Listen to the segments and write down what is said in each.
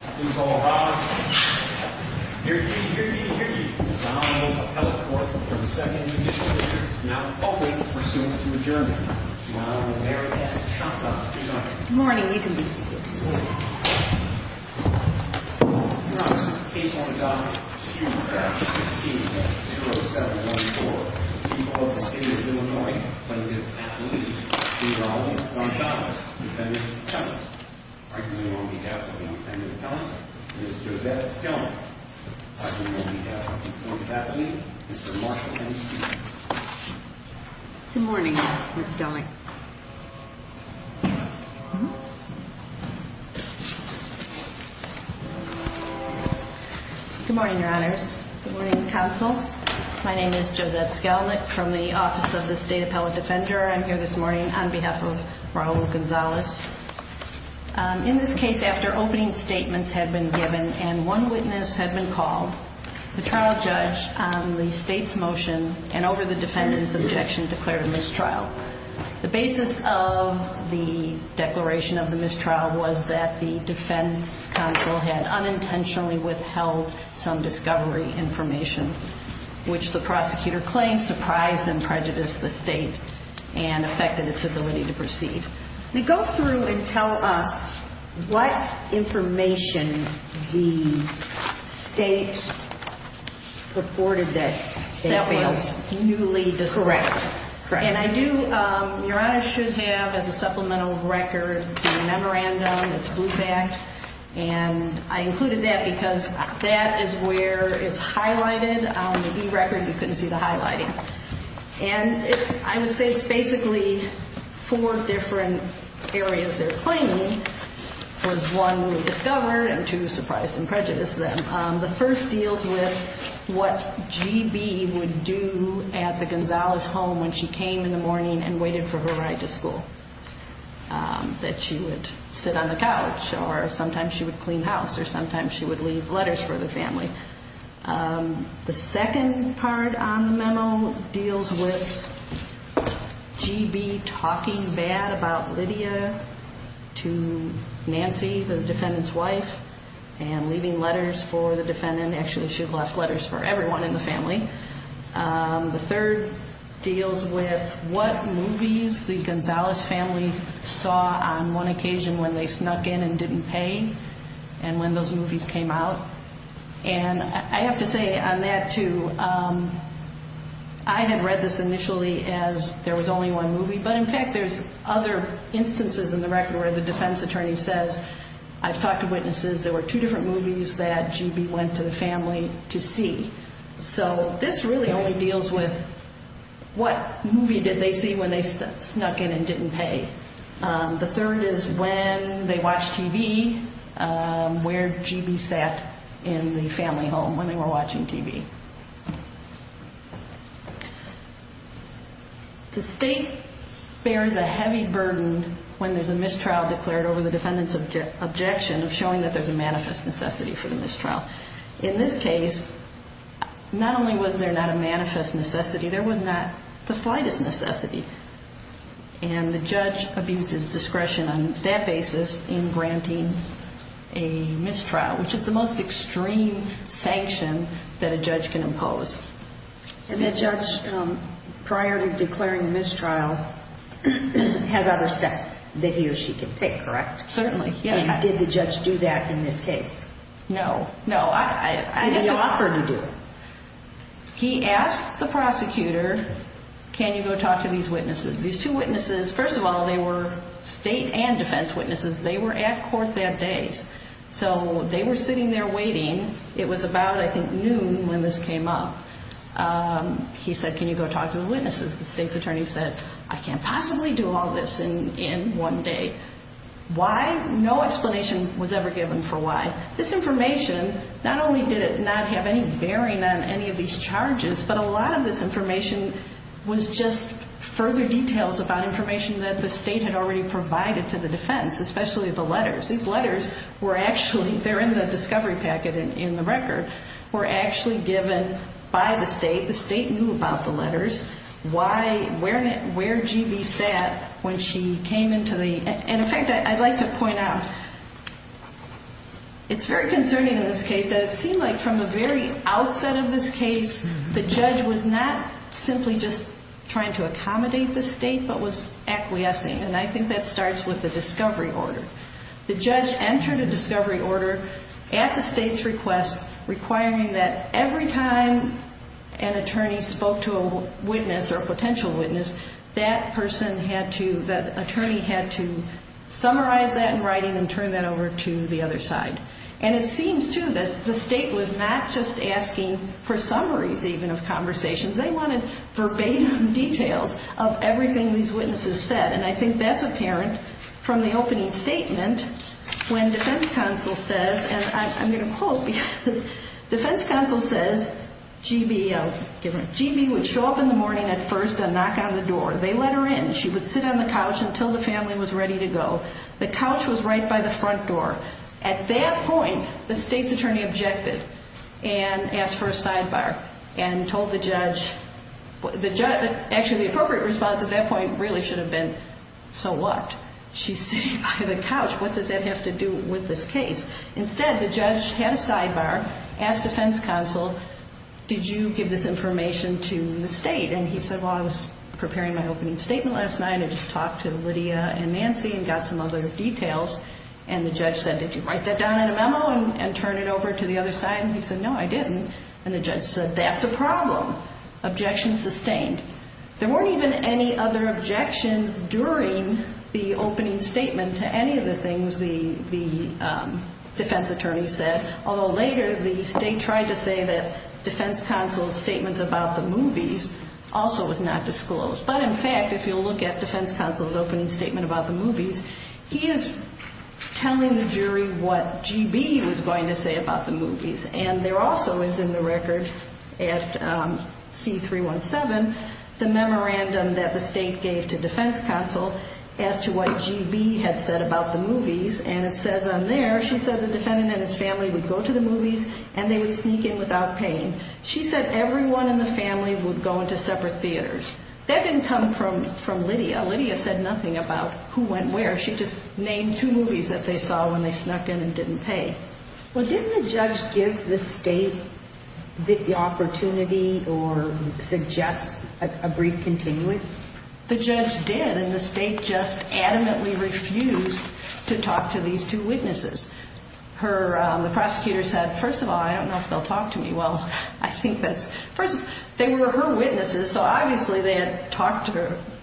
Please all rise. Hear ye, hear ye, hear ye. The Sonoma Appellate Court, for the second initial hearing, is now in full swing. We're soon to adjourn. Now, Mary S. Shostakovich is our... Good morning. We can be seated. Your Honor, this is a case on the Donald H. Schumer crash. 15-20714. People of the State of Illinois. Plenty of athletes. These are all Gonzalez's defendants. Arguing on behalf of the Independent Appellant, Ms. Josette Skelnick. Arguing on behalf of the informed faculty, Mr. Marshall and his students. Good morning, Ms. Skelnick. Good morning, Your Honors. Good morning, Counsel. My name is Josette Skelnick from the Office of the State Appellant Defender. I'm here this morning on behalf of Raul Gonzalez. In this case, after opening statements had been given and one witness had been called, the trial judge, on the State's motion and over the defendant's objection, declared a mistrial. The basis of the declaration of the mistrial was that the defense counsel had unintentionally withheld some discovery information, which the prosecutor claimed surprised and prejudiced the State and affected its ability to proceed. Go through and tell us what information the State reported that was newly discovered. Correct. And I do, Your Honors, should have as a supplemental record the memorandum. It's blue-backed. And I included that because that is where it's highlighted on the e-record. You couldn't see the highlighting. And I would say it's basically four different areas they're claiming. There's one newly discovered and two surprised and prejudiced them. The first deals with what G.B. would do at the Gonzalez home when she came in the morning and waited for her ride to school, that she would sit on the couch or sometimes she would clean the house or sometimes she would leave letters for the family. The second part on the memo deals with G.B. talking bad about Lydia to Nancy, the defendant's wife, and leaving letters for the defendant. Actually, she left letters for everyone in the family. The third deals with what movies the Gonzalez family saw on one occasion when they snuck in and didn't pay and when those movies came out. And I have to say on that too, I had read this initially as there was only one movie, but in fact there's other instances in the record where the defense attorney says, I've talked to witnesses, there were two different movies that G.B. went to the family to see. So this really only deals with what movie did they see when they snuck in and didn't pay. The third is when they watched TV, where G.B. sat in the family home when they were watching TV. The state bears a heavy burden when there's a mistrial declared over the defendant's objection of showing that there's a manifest necessity for the mistrial. In this case, not only was there not a manifest necessity, there was not the slightest necessity. And the judge abuses discretion on that basis in granting a mistrial, which is the most extreme sanction that a judge can impose. And the judge, prior to declaring the mistrial, has other steps that he or she can take, correct? Certainly, yes. And did the judge do that in this case? No, no. Did he offer to do it? He asked the prosecutor, can you go talk to these witnesses? These two witnesses, first of all, they were state and defense witnesses. They were at court that day. So they were sitting there waiting. It was about, I think, noon when this came up. He said, can you go talk to the witnesses? The state's attorney said, I can't possibly do all this in one day. Why? No explanation was ever given for why. This information, not only did it not have any bearing on any of these charges, but a lot of this information was just further details about information that the state had already provided to the defense, especially the letters. These letters were actually, they're in the discovery packet in the record, were actually given by the state. The state knew about the letters. Where G.B. sat when she came into the, and in fact, I'd like to point out, it's very concerning in this case that it seemed like from the very outset of this case, the judge was not simply just trying to accommodate the state, but was acquiescing. And I think that starts with the discovery order. The judge entered a discovery order at the state's request, requiring that every time an attorney spoke to a witness or a potential witness, that person had to, that attorney had to summarize that in writing and turn that over to the other side. And it seems, too, that the state was not just asking for summaries even of conversations. They wanted verbatim details of everything these witnesses said. And I think that's apparent from the opening statement when defense counsel says, and I'm going to quote because defense counsel says, G.B. would show up in the morning at first and knock on the door. They let her in. She would sit on the couch until the family was ready to go. The couch was right by the front door. At that point, the state's attorney objected and asked for a sidebar and told the judge, actually the appropriate response at that point really should have been, so what? She's sitting by the couch. What does that have to do with this case? Instead, the judge had a sidebar, asked defense counsel, did you give this information to the state? And he said, well, I was preparing my opening statement last night. I just talked to Lydia and Nancy and got some other details. And the judge said, did you write that down in a memo and turn it over to the other side? And he said, no, I didn't. And the judge said, that's a problem. Objection sustained. There weren't even any other objections during the opening statement to any of the things the defense attorney said, although later the state tried to say that defense counsel's statements about the movies also was not disclosed. But, in fact, if you'll look at defense counsel's opening statement about the movies, he is telling the jury what G.B. was going to say about the movies. And there also is in the record at C-317 the memorandum that the state gave to defense counsel as to what G.B. had said about the movies. And it says on there, she said the defendant and his family would go to the movies and they would sneak in without paying. She said everyone in the family would go into separate theaters. That didn't come from Lydia. Lydia said nothing about who went where. She just named two movies that they saw when they snuck in and didn't pay. Well, didn't the judge give the state the opportunity or suggest a brief continuance? The judge did, and the state just adamantly refused to talk to these two witnesses. The prosecutor said, first of all, I don't know if they'll talk to me. Well, I think that's, first of all, they were her witnesses, so obviously they had talked to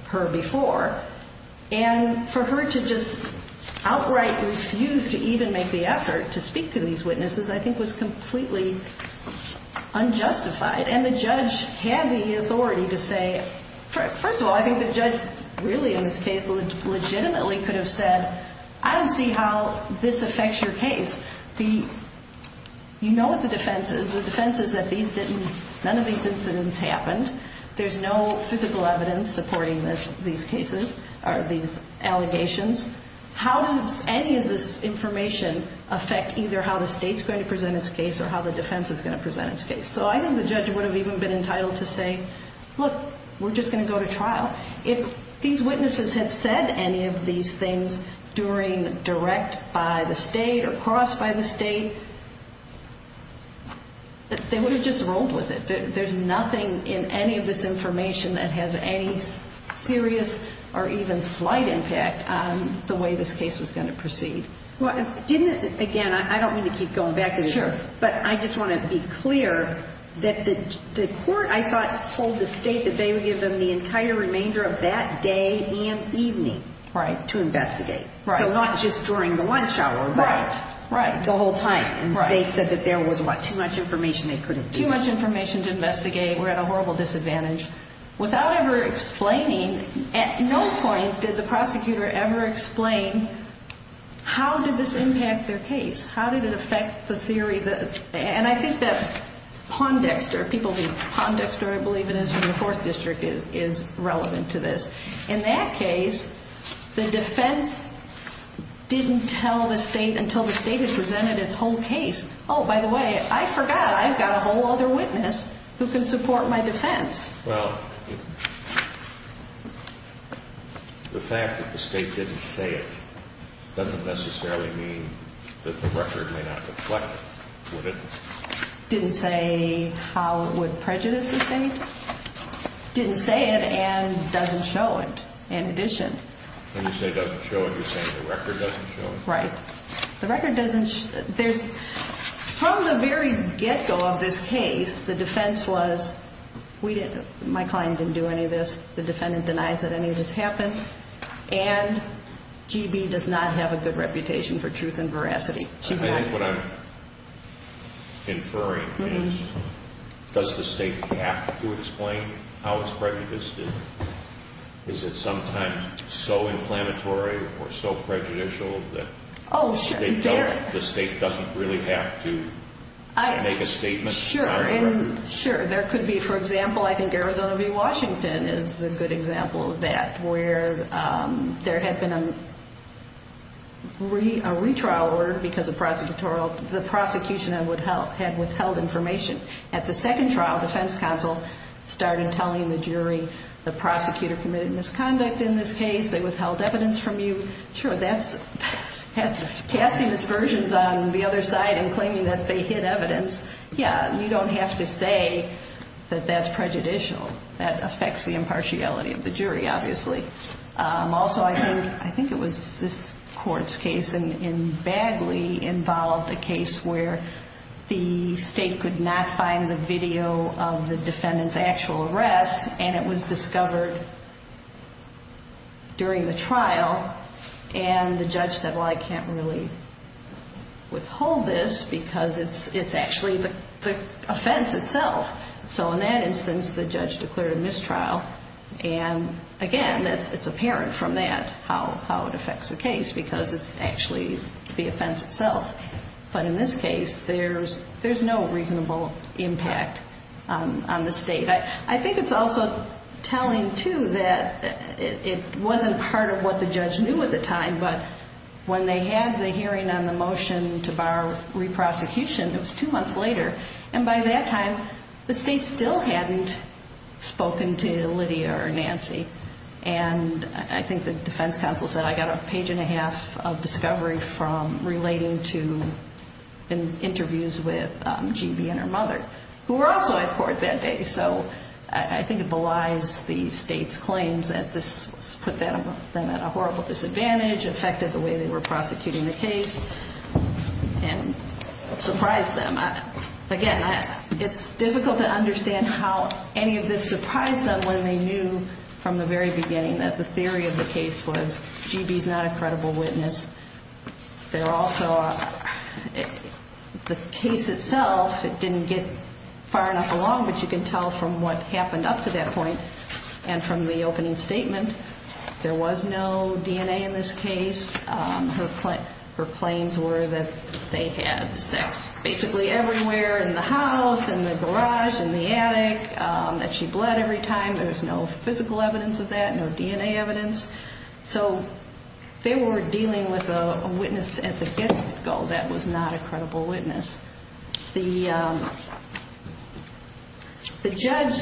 her before. And for her to just outright refuse to even make the effort to speak to these witnesses I think was completely unjustified. And the judge had the authority to say, first of all, I think the judge really in this case legitimately could have said, I don't see how this affects your case. You know what the defense is. The defense is that these didn't, none of these incidents happened. There's no physical evidence supporting these cases or these allegations. How does any of this information affect either how the state's going to present its case or how the defense is going to present its case? So I think the judge would have even been entitled to say, look, we're just going to go to trial. If these witnesses had said any of these things during direct by the state or cross by the state, they would have just rolled with it. There's nothing in any of this information that has any serious or even slight impact on the way this case was going to proceed. Well, didn't, again, I don't mean to keep going back, but I just want to be clear that the court, I thought, told the state that they would give them the entire remainder of that day and evening to investigate. So not just during the lunch hour, but the whole time. And the state said that there was too much information they couldn't give. There was too much information to investigate. We're at a horrible disadvantage. Without ever explaining, at no point did the prosecutor ever explain how did this impact their case. How did it affect the theory? And I think that Pondexter, people, Pondexter, I believe it is from the 4th District, is relevant to this. In that case, the defense didn't tell the state until the state had presented its whole case. Oh, by the way, I forgot I've got a whole other witness who can support my defense. Well, the fact that the state didn't say it doesn't necessarily mean that the record may not reflect it, would it? Didn't say how it would prejudice the state. Didn't say it and doesn't show it, in addition. When you say doesn't show it, you're saying the record doesn't show it? Right. The record doesn't show it. From the very get-go of this case, the defense was, my client didn't do any of this. The defendant denies that any of this happened. And GB does not have a good reputation for truth and veracity. What I'm inferring is, does the state have to explain how it's prejudiced? Is it sometimes so inflammatory or so prejudicial that the state doesn't really have to make a statement? Sure. There could be, for example, I think Arizona v. Washington is a good example of that, where there had been a retrial order because the prosecution had withheld information. At the second trial, defense counsel started telling the jury, the prosecutor committed misconduct in this case. They withheld evidence from you. Sure, that's casting aspersions on the other side and claiming that they hid evidence. Yeah, you don't have to say that that's prejudicial. That affects the impartiality of the jury, obviously. Also, I think it was this court's case in Bagley involved a case where the state could not find the video of the defendant's actual arrest, and it was discovered during the trial. And the judge said, well, I can't really withhold this because it's actually the offense itself. So in that instance, the judge declared a mistrial, and again, it's apparent from that how it affects the case because it's actually the offense itself. But in this case, there's no reasonable impact on the state. I think it's also telling, too, that it wasn't part of what the judge knew at the time, but when they had the hearing on the motion to borrow re-prosecution, it was two months later, and by that time, the state still hadn't spoken to Lydia or Nancy. And I think the defense counsel said, I got a page and a half of discovery from relating to interviews with GB and her mother, who were also at court that day. So I think it belies the state's claims that this put them at a horrible disadvantage, affected the way they were prosecuting the case, and surprised them. Again, it's difficult to understand how any of this surprised them when they knew from the very beginning that the theory of the case was GB's not a credible witness. They're also the case itself, it didn't get far enough along, but you can tell from what happened up to that point and from the opening statement, there was no DNA in this case. Her claims were that they had sex basically everywhere, in the house, in the garage, in the attic, that she bled every time. There was no physical evidence of that, no DNA evidence. So they were dealing with a witness at the get-go that was not a credible witness. The judge,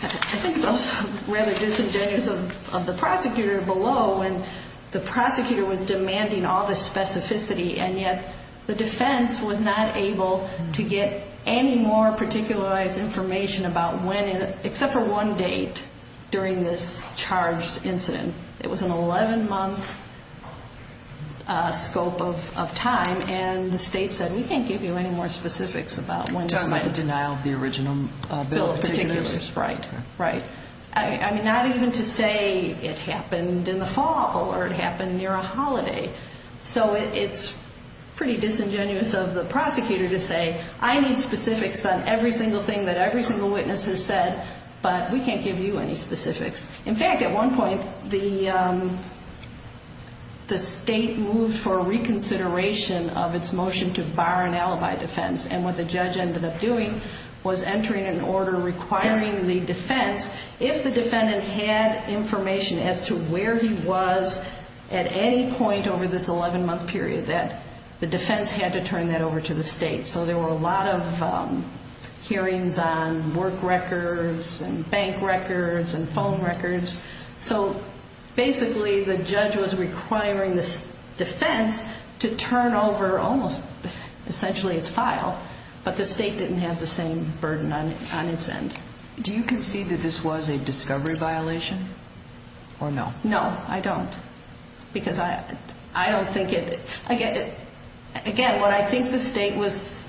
I think it's also rather disingenuous of the prosecutor below, when the prosecutor was demanding all this specificity, and yet the defense was not able to get any more particularized information about when, except for one date, during this charged incident. It was an 11-month scope of time, and the state said, we can't give you any more specifics about when this happened. Denial of the original bill of particulars. Bill of particulars, right, right. I mean, not even to say it happened in the fall or it happened near a holiday. So it's pretty disingenuous of the prosecutor to say, I need specifics on every single thing that every single witness has said, but we can't give you any specifics. In fact, at one point, the state moved for reconsideration of its motion to bar an alibi defense, and what the judge ended up doing was entering an order requiring the defense, if the defendant had information as to where he was at any point over this 11-month period, that the defense had to turn that over to the state. So there were a lot of hearings on work records and bank records and phone records. So basically the judge was requiring the defense to turn over almost essentially its file, but the state didn't have the same burden on its end. Do you concede that this was a discovery violation or no? No, I don't. Because I don't think it, again, what I think the state was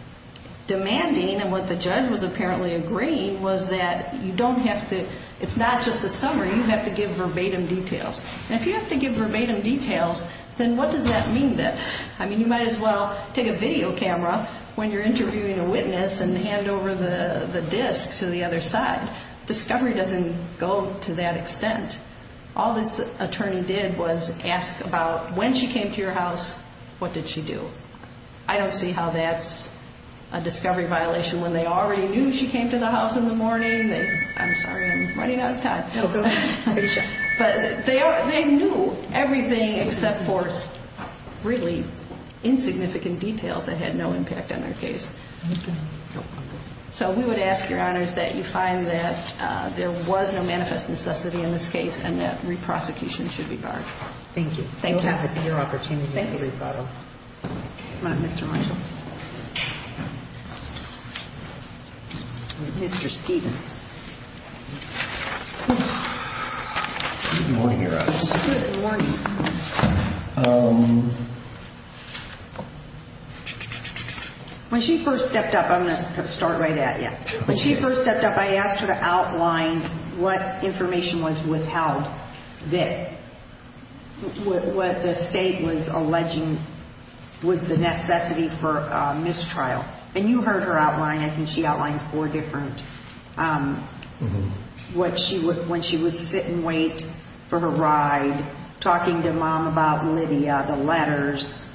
demanding and what the judge was apparently agreeing was that you don't have to, it's not just a summary, you have to give verbatim details. And if you have to give verbatim details, then what does that mean then? I mean, you might as well take a video camera when you're interviewing a witness and hand over the disc to the other side. Discovery doesn't go to that extent. All this attorney did was ask about when she came to your house, what did she do? I don't see how that's a discovery violation when they already knew she came to the house in the morning. I'm sorry, I'm running out of time. But they knew everything except for really insignificant details that had no impact on their case. So we would ask, Your Honors, that you find that there was no manifest necessity in this case and that re-prosecution should be barred. Thank you. Thank you. We'll have it at your opportunity at the rebuttal. Thank you. Come on up, Mr. Marshall. Mr. Stevens. Good morning, Your Honors. Good morning. When she first stepped up, I'm going to start right at you. When she first stepped up, I asked her to outline what information was withheld there. What the state was alleging was the necessity for mistrial. And you heard her outline. I think she outlined four different. When she was sit and wait for her ride, talking to Mom about Lydia, the letters,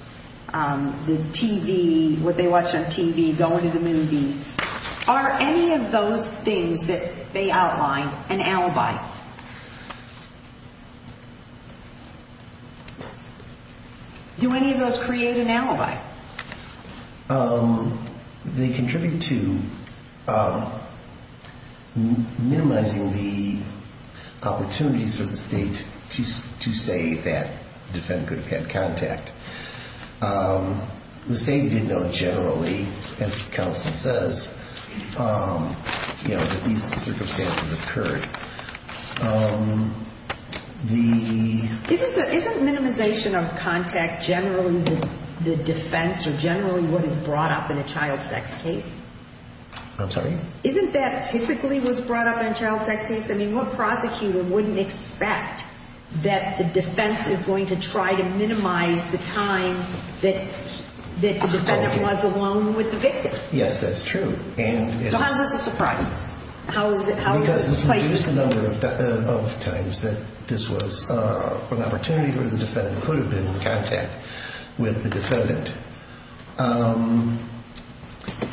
the TV, what they watched on TV, going to the movies. Are any of those things that they outlined an alibi? They contribute to minimizing the opportunities for the state to say that the defendant could have had contact. The state did note generally, as counsel says, that these circumstances occurred. Isn't minimization of contact generally the defense or generally what is brought up in a child sex case? I'm sorry? Isn't that typically what's brought up in a child sex case? I mean, what prosecutor wouldn't expect that the defense is going to try to minimize the time that the defendant was alone with the victim? Yes, that's true. So how is this a surprise? Because it's been used a number of times that this was an opportunity where the defendant could have been in contact with the defendant.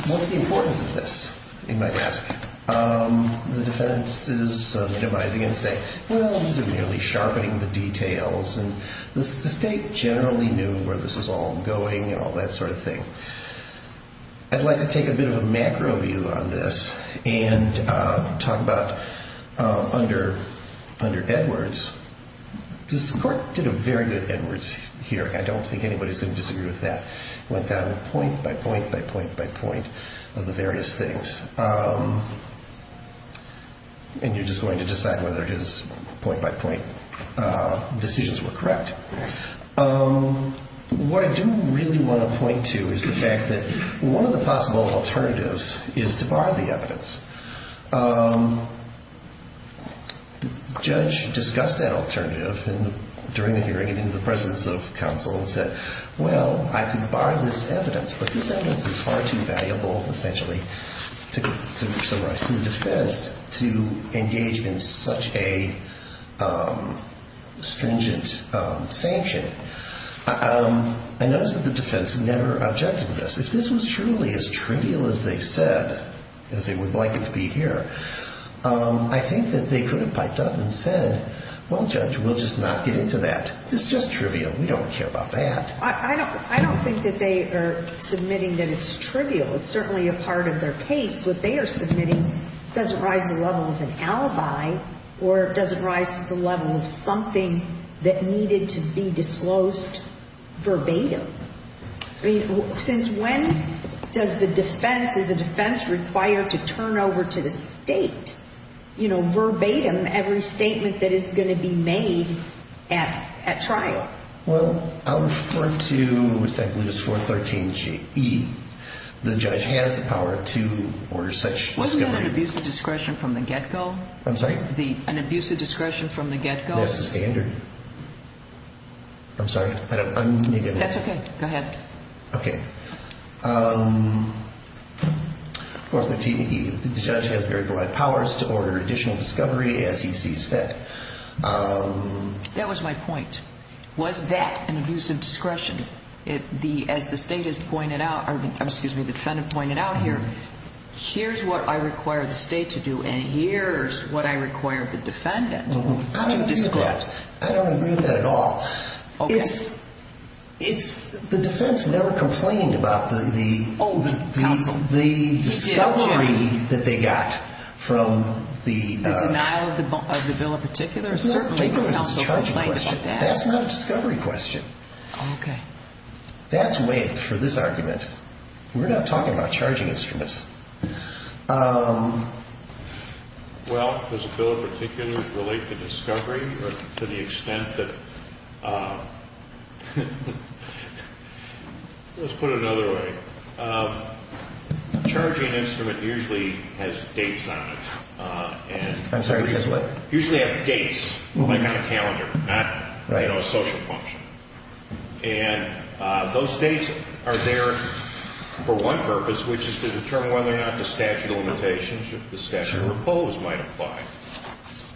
What's the importance of this, you might ask? The defense is sort of devising and saying, well, these are merely sharpening the details. And the state generally knew where this was all going and all that sort of thing. I'd like to take a bit of a macro view on this and talk about under Edwards, the court did a very good Edwards hearing. I don't think anybody's going to disagree with that. It went down point by point by point by point of the various things. And you're just going to decide whether his point by point decisions were correct. What I do really want to point to is the fact that one of the possible alternatives is to bar the evidence. The judge discussed that alternative during the hearing and in the presence of counsel and said, well, I could bar this evidence. But this evidence is far too valuable, essentially, to summarize. And I don't think it's in the defense to engage in such a stringent sanction. I notice that the defense never objected to this. If this was truly as trivial as they said, as they would like it to be here, I think that they could have piped up and said, well, judge, we'll just not get into that. It's just trivial. We don't care about that. I don't think that they are submitting that it's trivial. It's certainly a part of their case. What they are submitting doesn't rise to the level of an alibi or doesn't rise to the level of something that needed to be disclosed verbatim. Since when does the defense, is the defense required to turn over to the state verbatim every statement that is going to be made at trial? Well, I'll refer to, effectively, this 413E. The judge has the power to order such discovery. Wasn't that an abuse of discretion from the get-go? That's the standard. I'm sorry. That's okay. Go ahead. 413E, the judge has very broad powers to order additional discovery as he sees fit. That was my point. Was that an abuse of discretion? As the defendant pointed out here, here's what I require the state to do and here's what I require the defendant to disclose. I don't agree with that at all. The defense never complained about the discovery that they got from the... That's not a discovery question. That's way for this argument. We're not talking about charging instruments. Well, does the bill particularly relate to discovery to the extent that... Let's put it another way. A charging instrument usually has dates on it. Usually have dates, like on a calendar, not a social function. And those dates are there for one purpose, which is to determine whether or not the statute of limitations or the statute of repose might apply.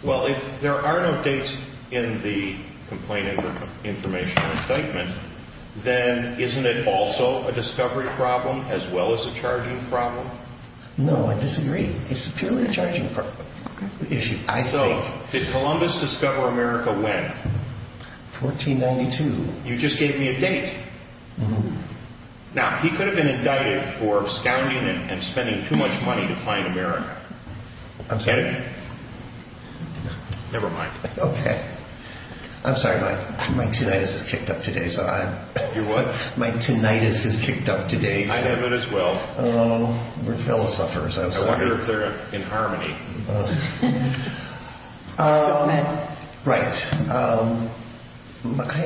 Well, if there are no dates in the complaint information indictment, then isn't it also a discovery problem as well as a charging problem? No, I disagree. It's purely a charging issue. So did Columbus discover America when? 1492. You just gave me a date. Now, he could have been indicted for scounding and spending too much money to find America. Never mind. I'm sorry. My tinnitus has kicked up today. I have it as well. I wonder if they're in harmony. Right. I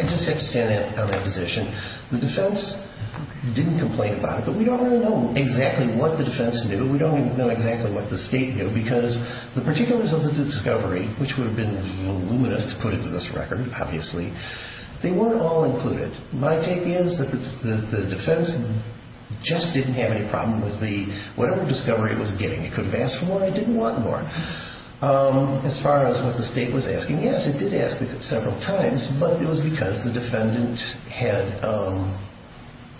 just have to stand on that position. The defense didn't complain about it, but we don't really know exactly what the defense knew. We don't know exactly what the state knew, because the particulars of the discovery, which would have been voluminous to put into this record, obviously, they weren't all included. My take is that the defense just didn't have any problem with whatever discovery it was getting. It could have asked for more. It didn't want more. As far as what the state was asking, yes, it did ask several times, but it was because the defendant had a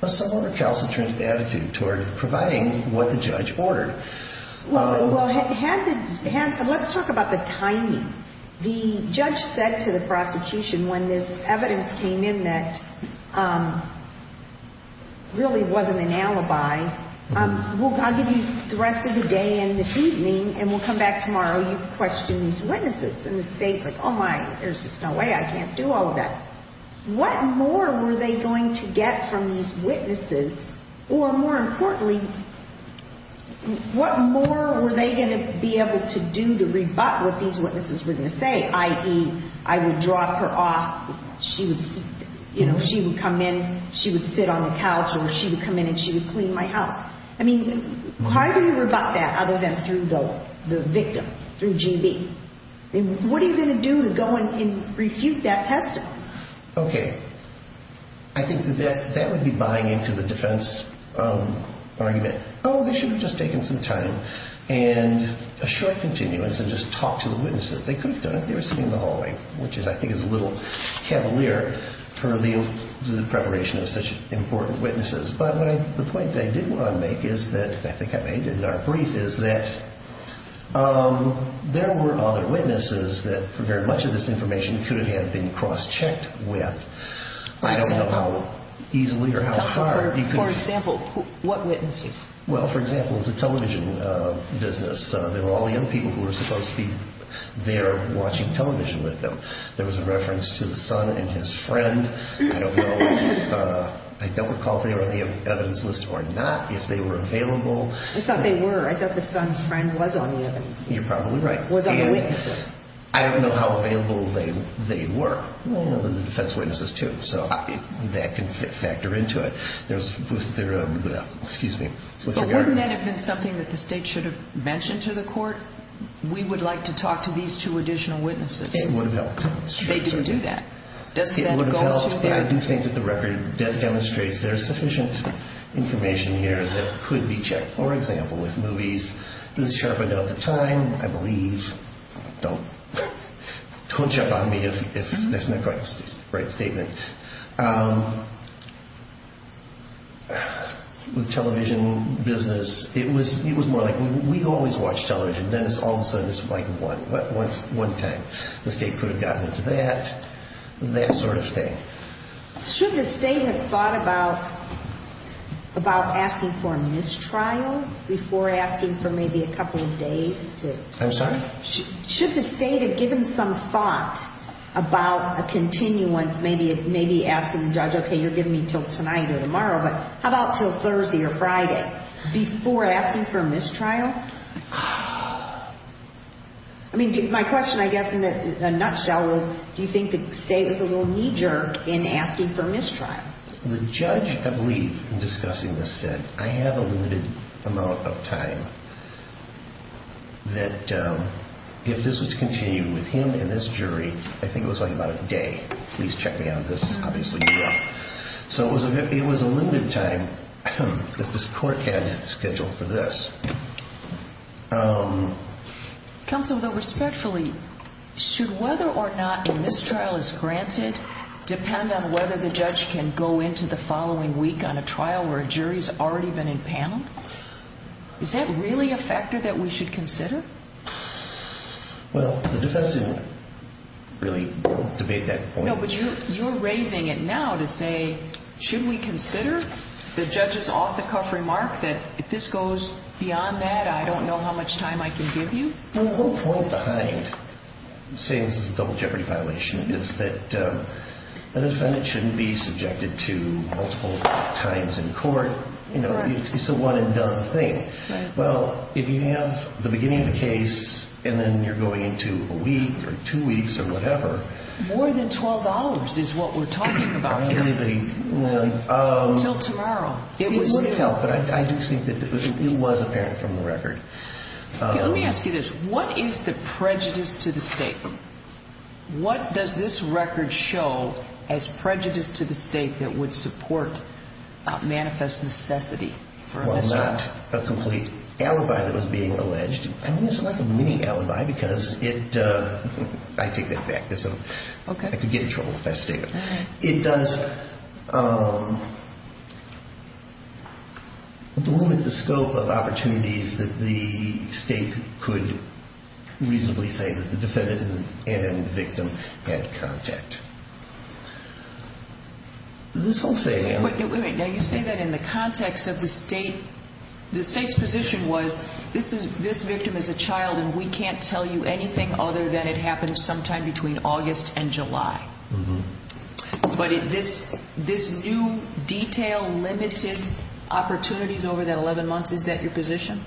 somewhat concentrated attitude toward providing what the judge ordered. Well, let's talk about the timing. The judge said to the prosecution when this evidence came in that really wasn't an alibi, I'll give you the rest of the day and this evening, and we'll come back tomorrow, you question these witnesses. And the state's like, oh, my, there's just no way I can't do all of that. What more were they going to get from these witnesses, or more importantly, what more were they going to be able to do to rebut what these witnesses were going to say, i.e., I would drop her off, she would come in, she would sit on the couch, or she would come in and she would clean my house. I mean, how do you rebut that other than through the victim, through G.B.? What are you going to do to go and refute that testimony? Okay. I think that that would be buying into the defense argument. Oh, they should have just taken some time and a short continuance and just talked to the witnesses. They could have done it. They were sitting in the hallway, which I think is a little cavalier for the preparation of such important witnesses. But the point that I did want to make is that, I think I made it in our brief, is that there were other witnesses that for very much of this information could have been cross-checked with. I don't know how easily or how far. For example, what witnesses? Well, for example, the television business. There were all young people who were supposed to be there watching television with them. There was a reference to the son and his friend. I don't recall if they were on the evidence list or not, if they were available. I thought they were. I thought the son's friend was on the evidence list. You're probably right. I don't know how available they were, the defense witnesses, too. So that can factor into it. But wouldn't that have been something that the state should have mentioned to the court? We would like to talk to these two additional witnesses. It would have helped. They didn't do that. I do think that the record demonstrates there's sufficient information here that could be checked. For example, with movies. Don't jump on me if that's not quite the right statement. With the television business, it was more like, we always watch television, then all of a sudden it's like one time. The state could have gotten into that, that sort of thing. Should the state have thought about asking for a mistrial before asking for maybe a couple of days? I'm sorry? Should the state have given some thought about a continuance, maybe asking the judge, okay, you're giving me until tonight or tomorrow, but how about until Thursday or Friday before asking for a mistrial? My question, I guess, in a nutshell is, do you think the state was a little knee-jerk in asking for a mistrial? The judge, I believe, in discussing this said, I have a limited amount of time. If this was to continue with him and this jury, I think it was like about a day. So it was a limited time that this court had scheduled for this. Counsel, though, respectfully, should whether or not a mistrial is granted depend on whether the judge can go into the following week on a trial where a jury's already been impaneled? Is that really a factor that we should consider? Well, the defense didn't really debate that point. No, but you're raising it now to say, should we consider the judge's off-the-cuff remark that if this goes beyond that, I don't know how much time I can give you? Well, the whole point behind saying this is a double jeopardy violation is that a defendant shouldn't be subjected to multiple times in court. It's a one-and-done thing. Well, if you have the beginning of the case and then you're going into a week or two weeks or whatever... More than $12 is what we're talking about. Until tomorrow. It would have helped, but I do think it was apparent from the record. Let me ask you this, what is the prejudice to the state? What does this record show as prejudice to the state that would support manifest necessity for this trial? Well, not a complete alibi that was being alleged. I think it's like a mini-alibi because it, I take that back. I could get in trouble if I stated it. It does limit the scope of opportunities that the state could reasonably say that the defendant and victim had contact. This whole thing... Wait a minute, now you say that in the context of the state's position was, this victim is a child and we can't tell you anything other than it happened sometime between August and July. But this new detail limited opportunities over that 11 months, is that your position?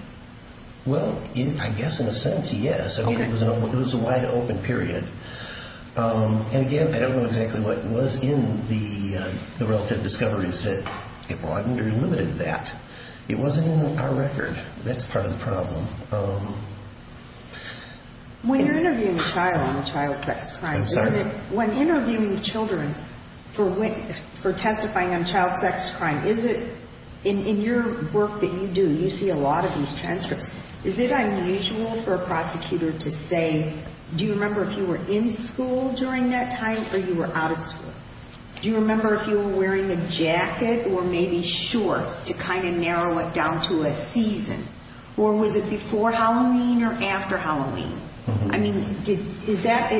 Well, I guess in a sense, yes. It was a wide-open period. And again, I don't know exactly what was in the relative discoveries that it broadened or limited that. It wasn't in our record. That's part of the problem. When interviewing children for testifying on child sex crime, is it, in your work that you do, you see a lot of these transcripts. Is it unusual for a prosecutor to say, do you remember if you were in school during that time or you were out of school? Do you remember if you were wearing a jacket or maybe shorts to kind of narrow it down to a season? Or was it before Halloween or after Halloween? I mean, is that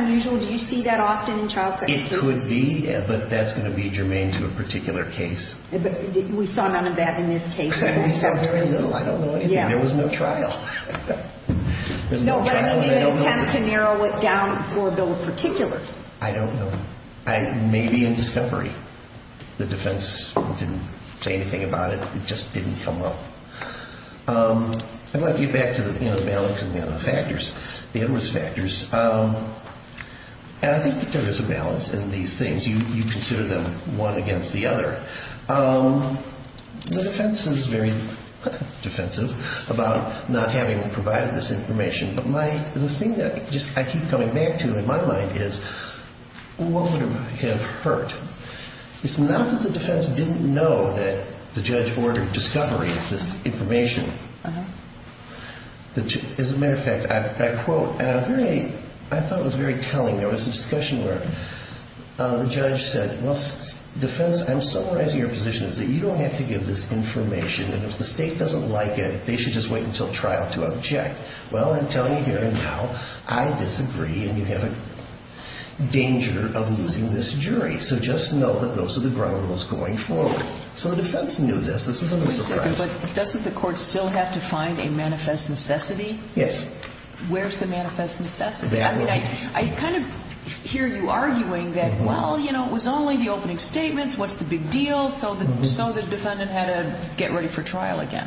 unusual? Do you see that often in child sex cases? It could be, but that's going to be germane to a particular case. We saw none of that in this case. I don't know anything. There was no trial. No, but I mean in an attempt to narrow it down for a bill of particulars. I don't know. Maybe in discovery. The defense didn't say anything about it. It just didn't come up. I'd like to get back to the balance and the other factors, the interest factors. I think there is a balance in these things. You consider them one against the other. The defense is very defensive about not having provided this information. But the thing that I keep coming back to in my mind is what would have hurt? It's not that the defense didn't know that the judge ordered discovery of this information. As a matter of fact, I quote, and I thought it was very telling. There was a discussion where the judge said, well, defense, I'm summarizing your position. You don't have to give this information, and if the state doesn't like it, they should just wait until trial to object. Well, I'm telling you here and now, I disagree, and you have a danger of losing this jury. So just know that those are the ground rules going forward. So the defense knew this. This isn't a surprise. But doesn't the court still have to find a manifest necessity? Where's the manifest necessity? I kind of hear you arguing that, well, it was only the opening statements, what's the big deal, so the defendant had to get ready for trial again.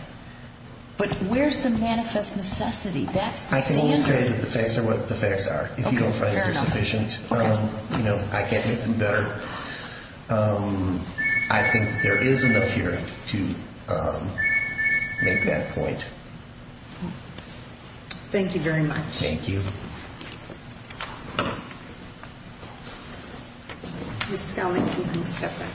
But where's the manifest necessity? I can only say that the facts are what the facts are. If you don't find they're sufficient, I can't make them better. I think there is enough here to make that point. Thank you very much. Thank you. Ms. Scali, you can step up.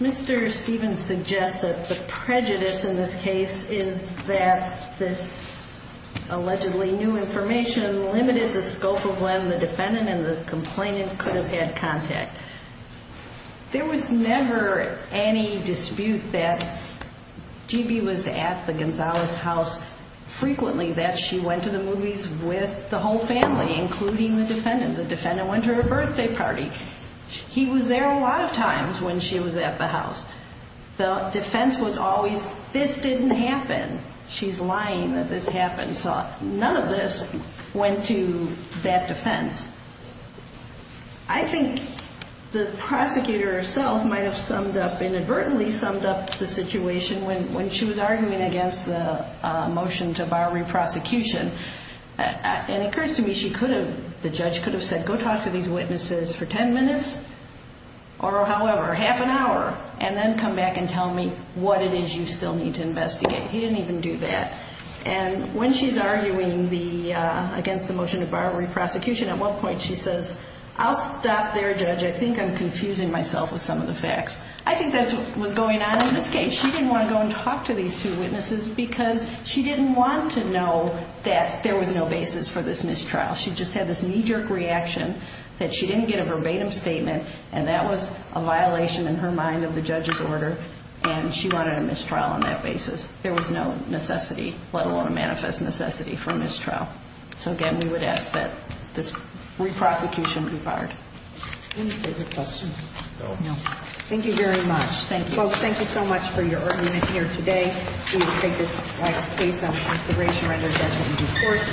Mr. Stevens suggests that the prejudice in this case is that this allegedly new information limited the scope of when the defendant and the complainant could have had contact. There was never any dispute that G.B. was at the Gonzales' house frequently, that she went to the movies with the whole family, including her husband. Including the defendant. The defendant went to her birthday party. He was there a lot of times when she was at the house. The defense was always, this didn't happen. She's lying that this happened. So none of this went to that defense. I think the prosecutor herself might have inadvertently summed up the situation when she was arguing against the motion to bar reprosecution. The judge could have said, go talk to these witnesses for ten minutes, or however, half an hour. And then come back and tell me what it is you still need to investigate. He didn't even do that. And when she's arguing against the motion to bar reprosecution, at one point she says, I'll stop there, judge. I think I'm confusing myself with some of the facts. I think that's what was going on in this case. She didn't want to go and talk to these two witnesses because she didn't want to know that there was no basis for this mistrial. She just had this knee-jerk reaction that she didn't get a verbatim statement, and that was a violation in her mind of the judge's order. And she wanted a mistrial on that basis. There was no necessity, let alone a manifest necessity, for a mistrial. So, again, we would ask that this reprosecution be barred. Any further questions? No. Thank you very much. Folks, thank you so much for your argument here today. We will take this case under consideration right after the judgment and, of course, there will be a brief recess. Thank you.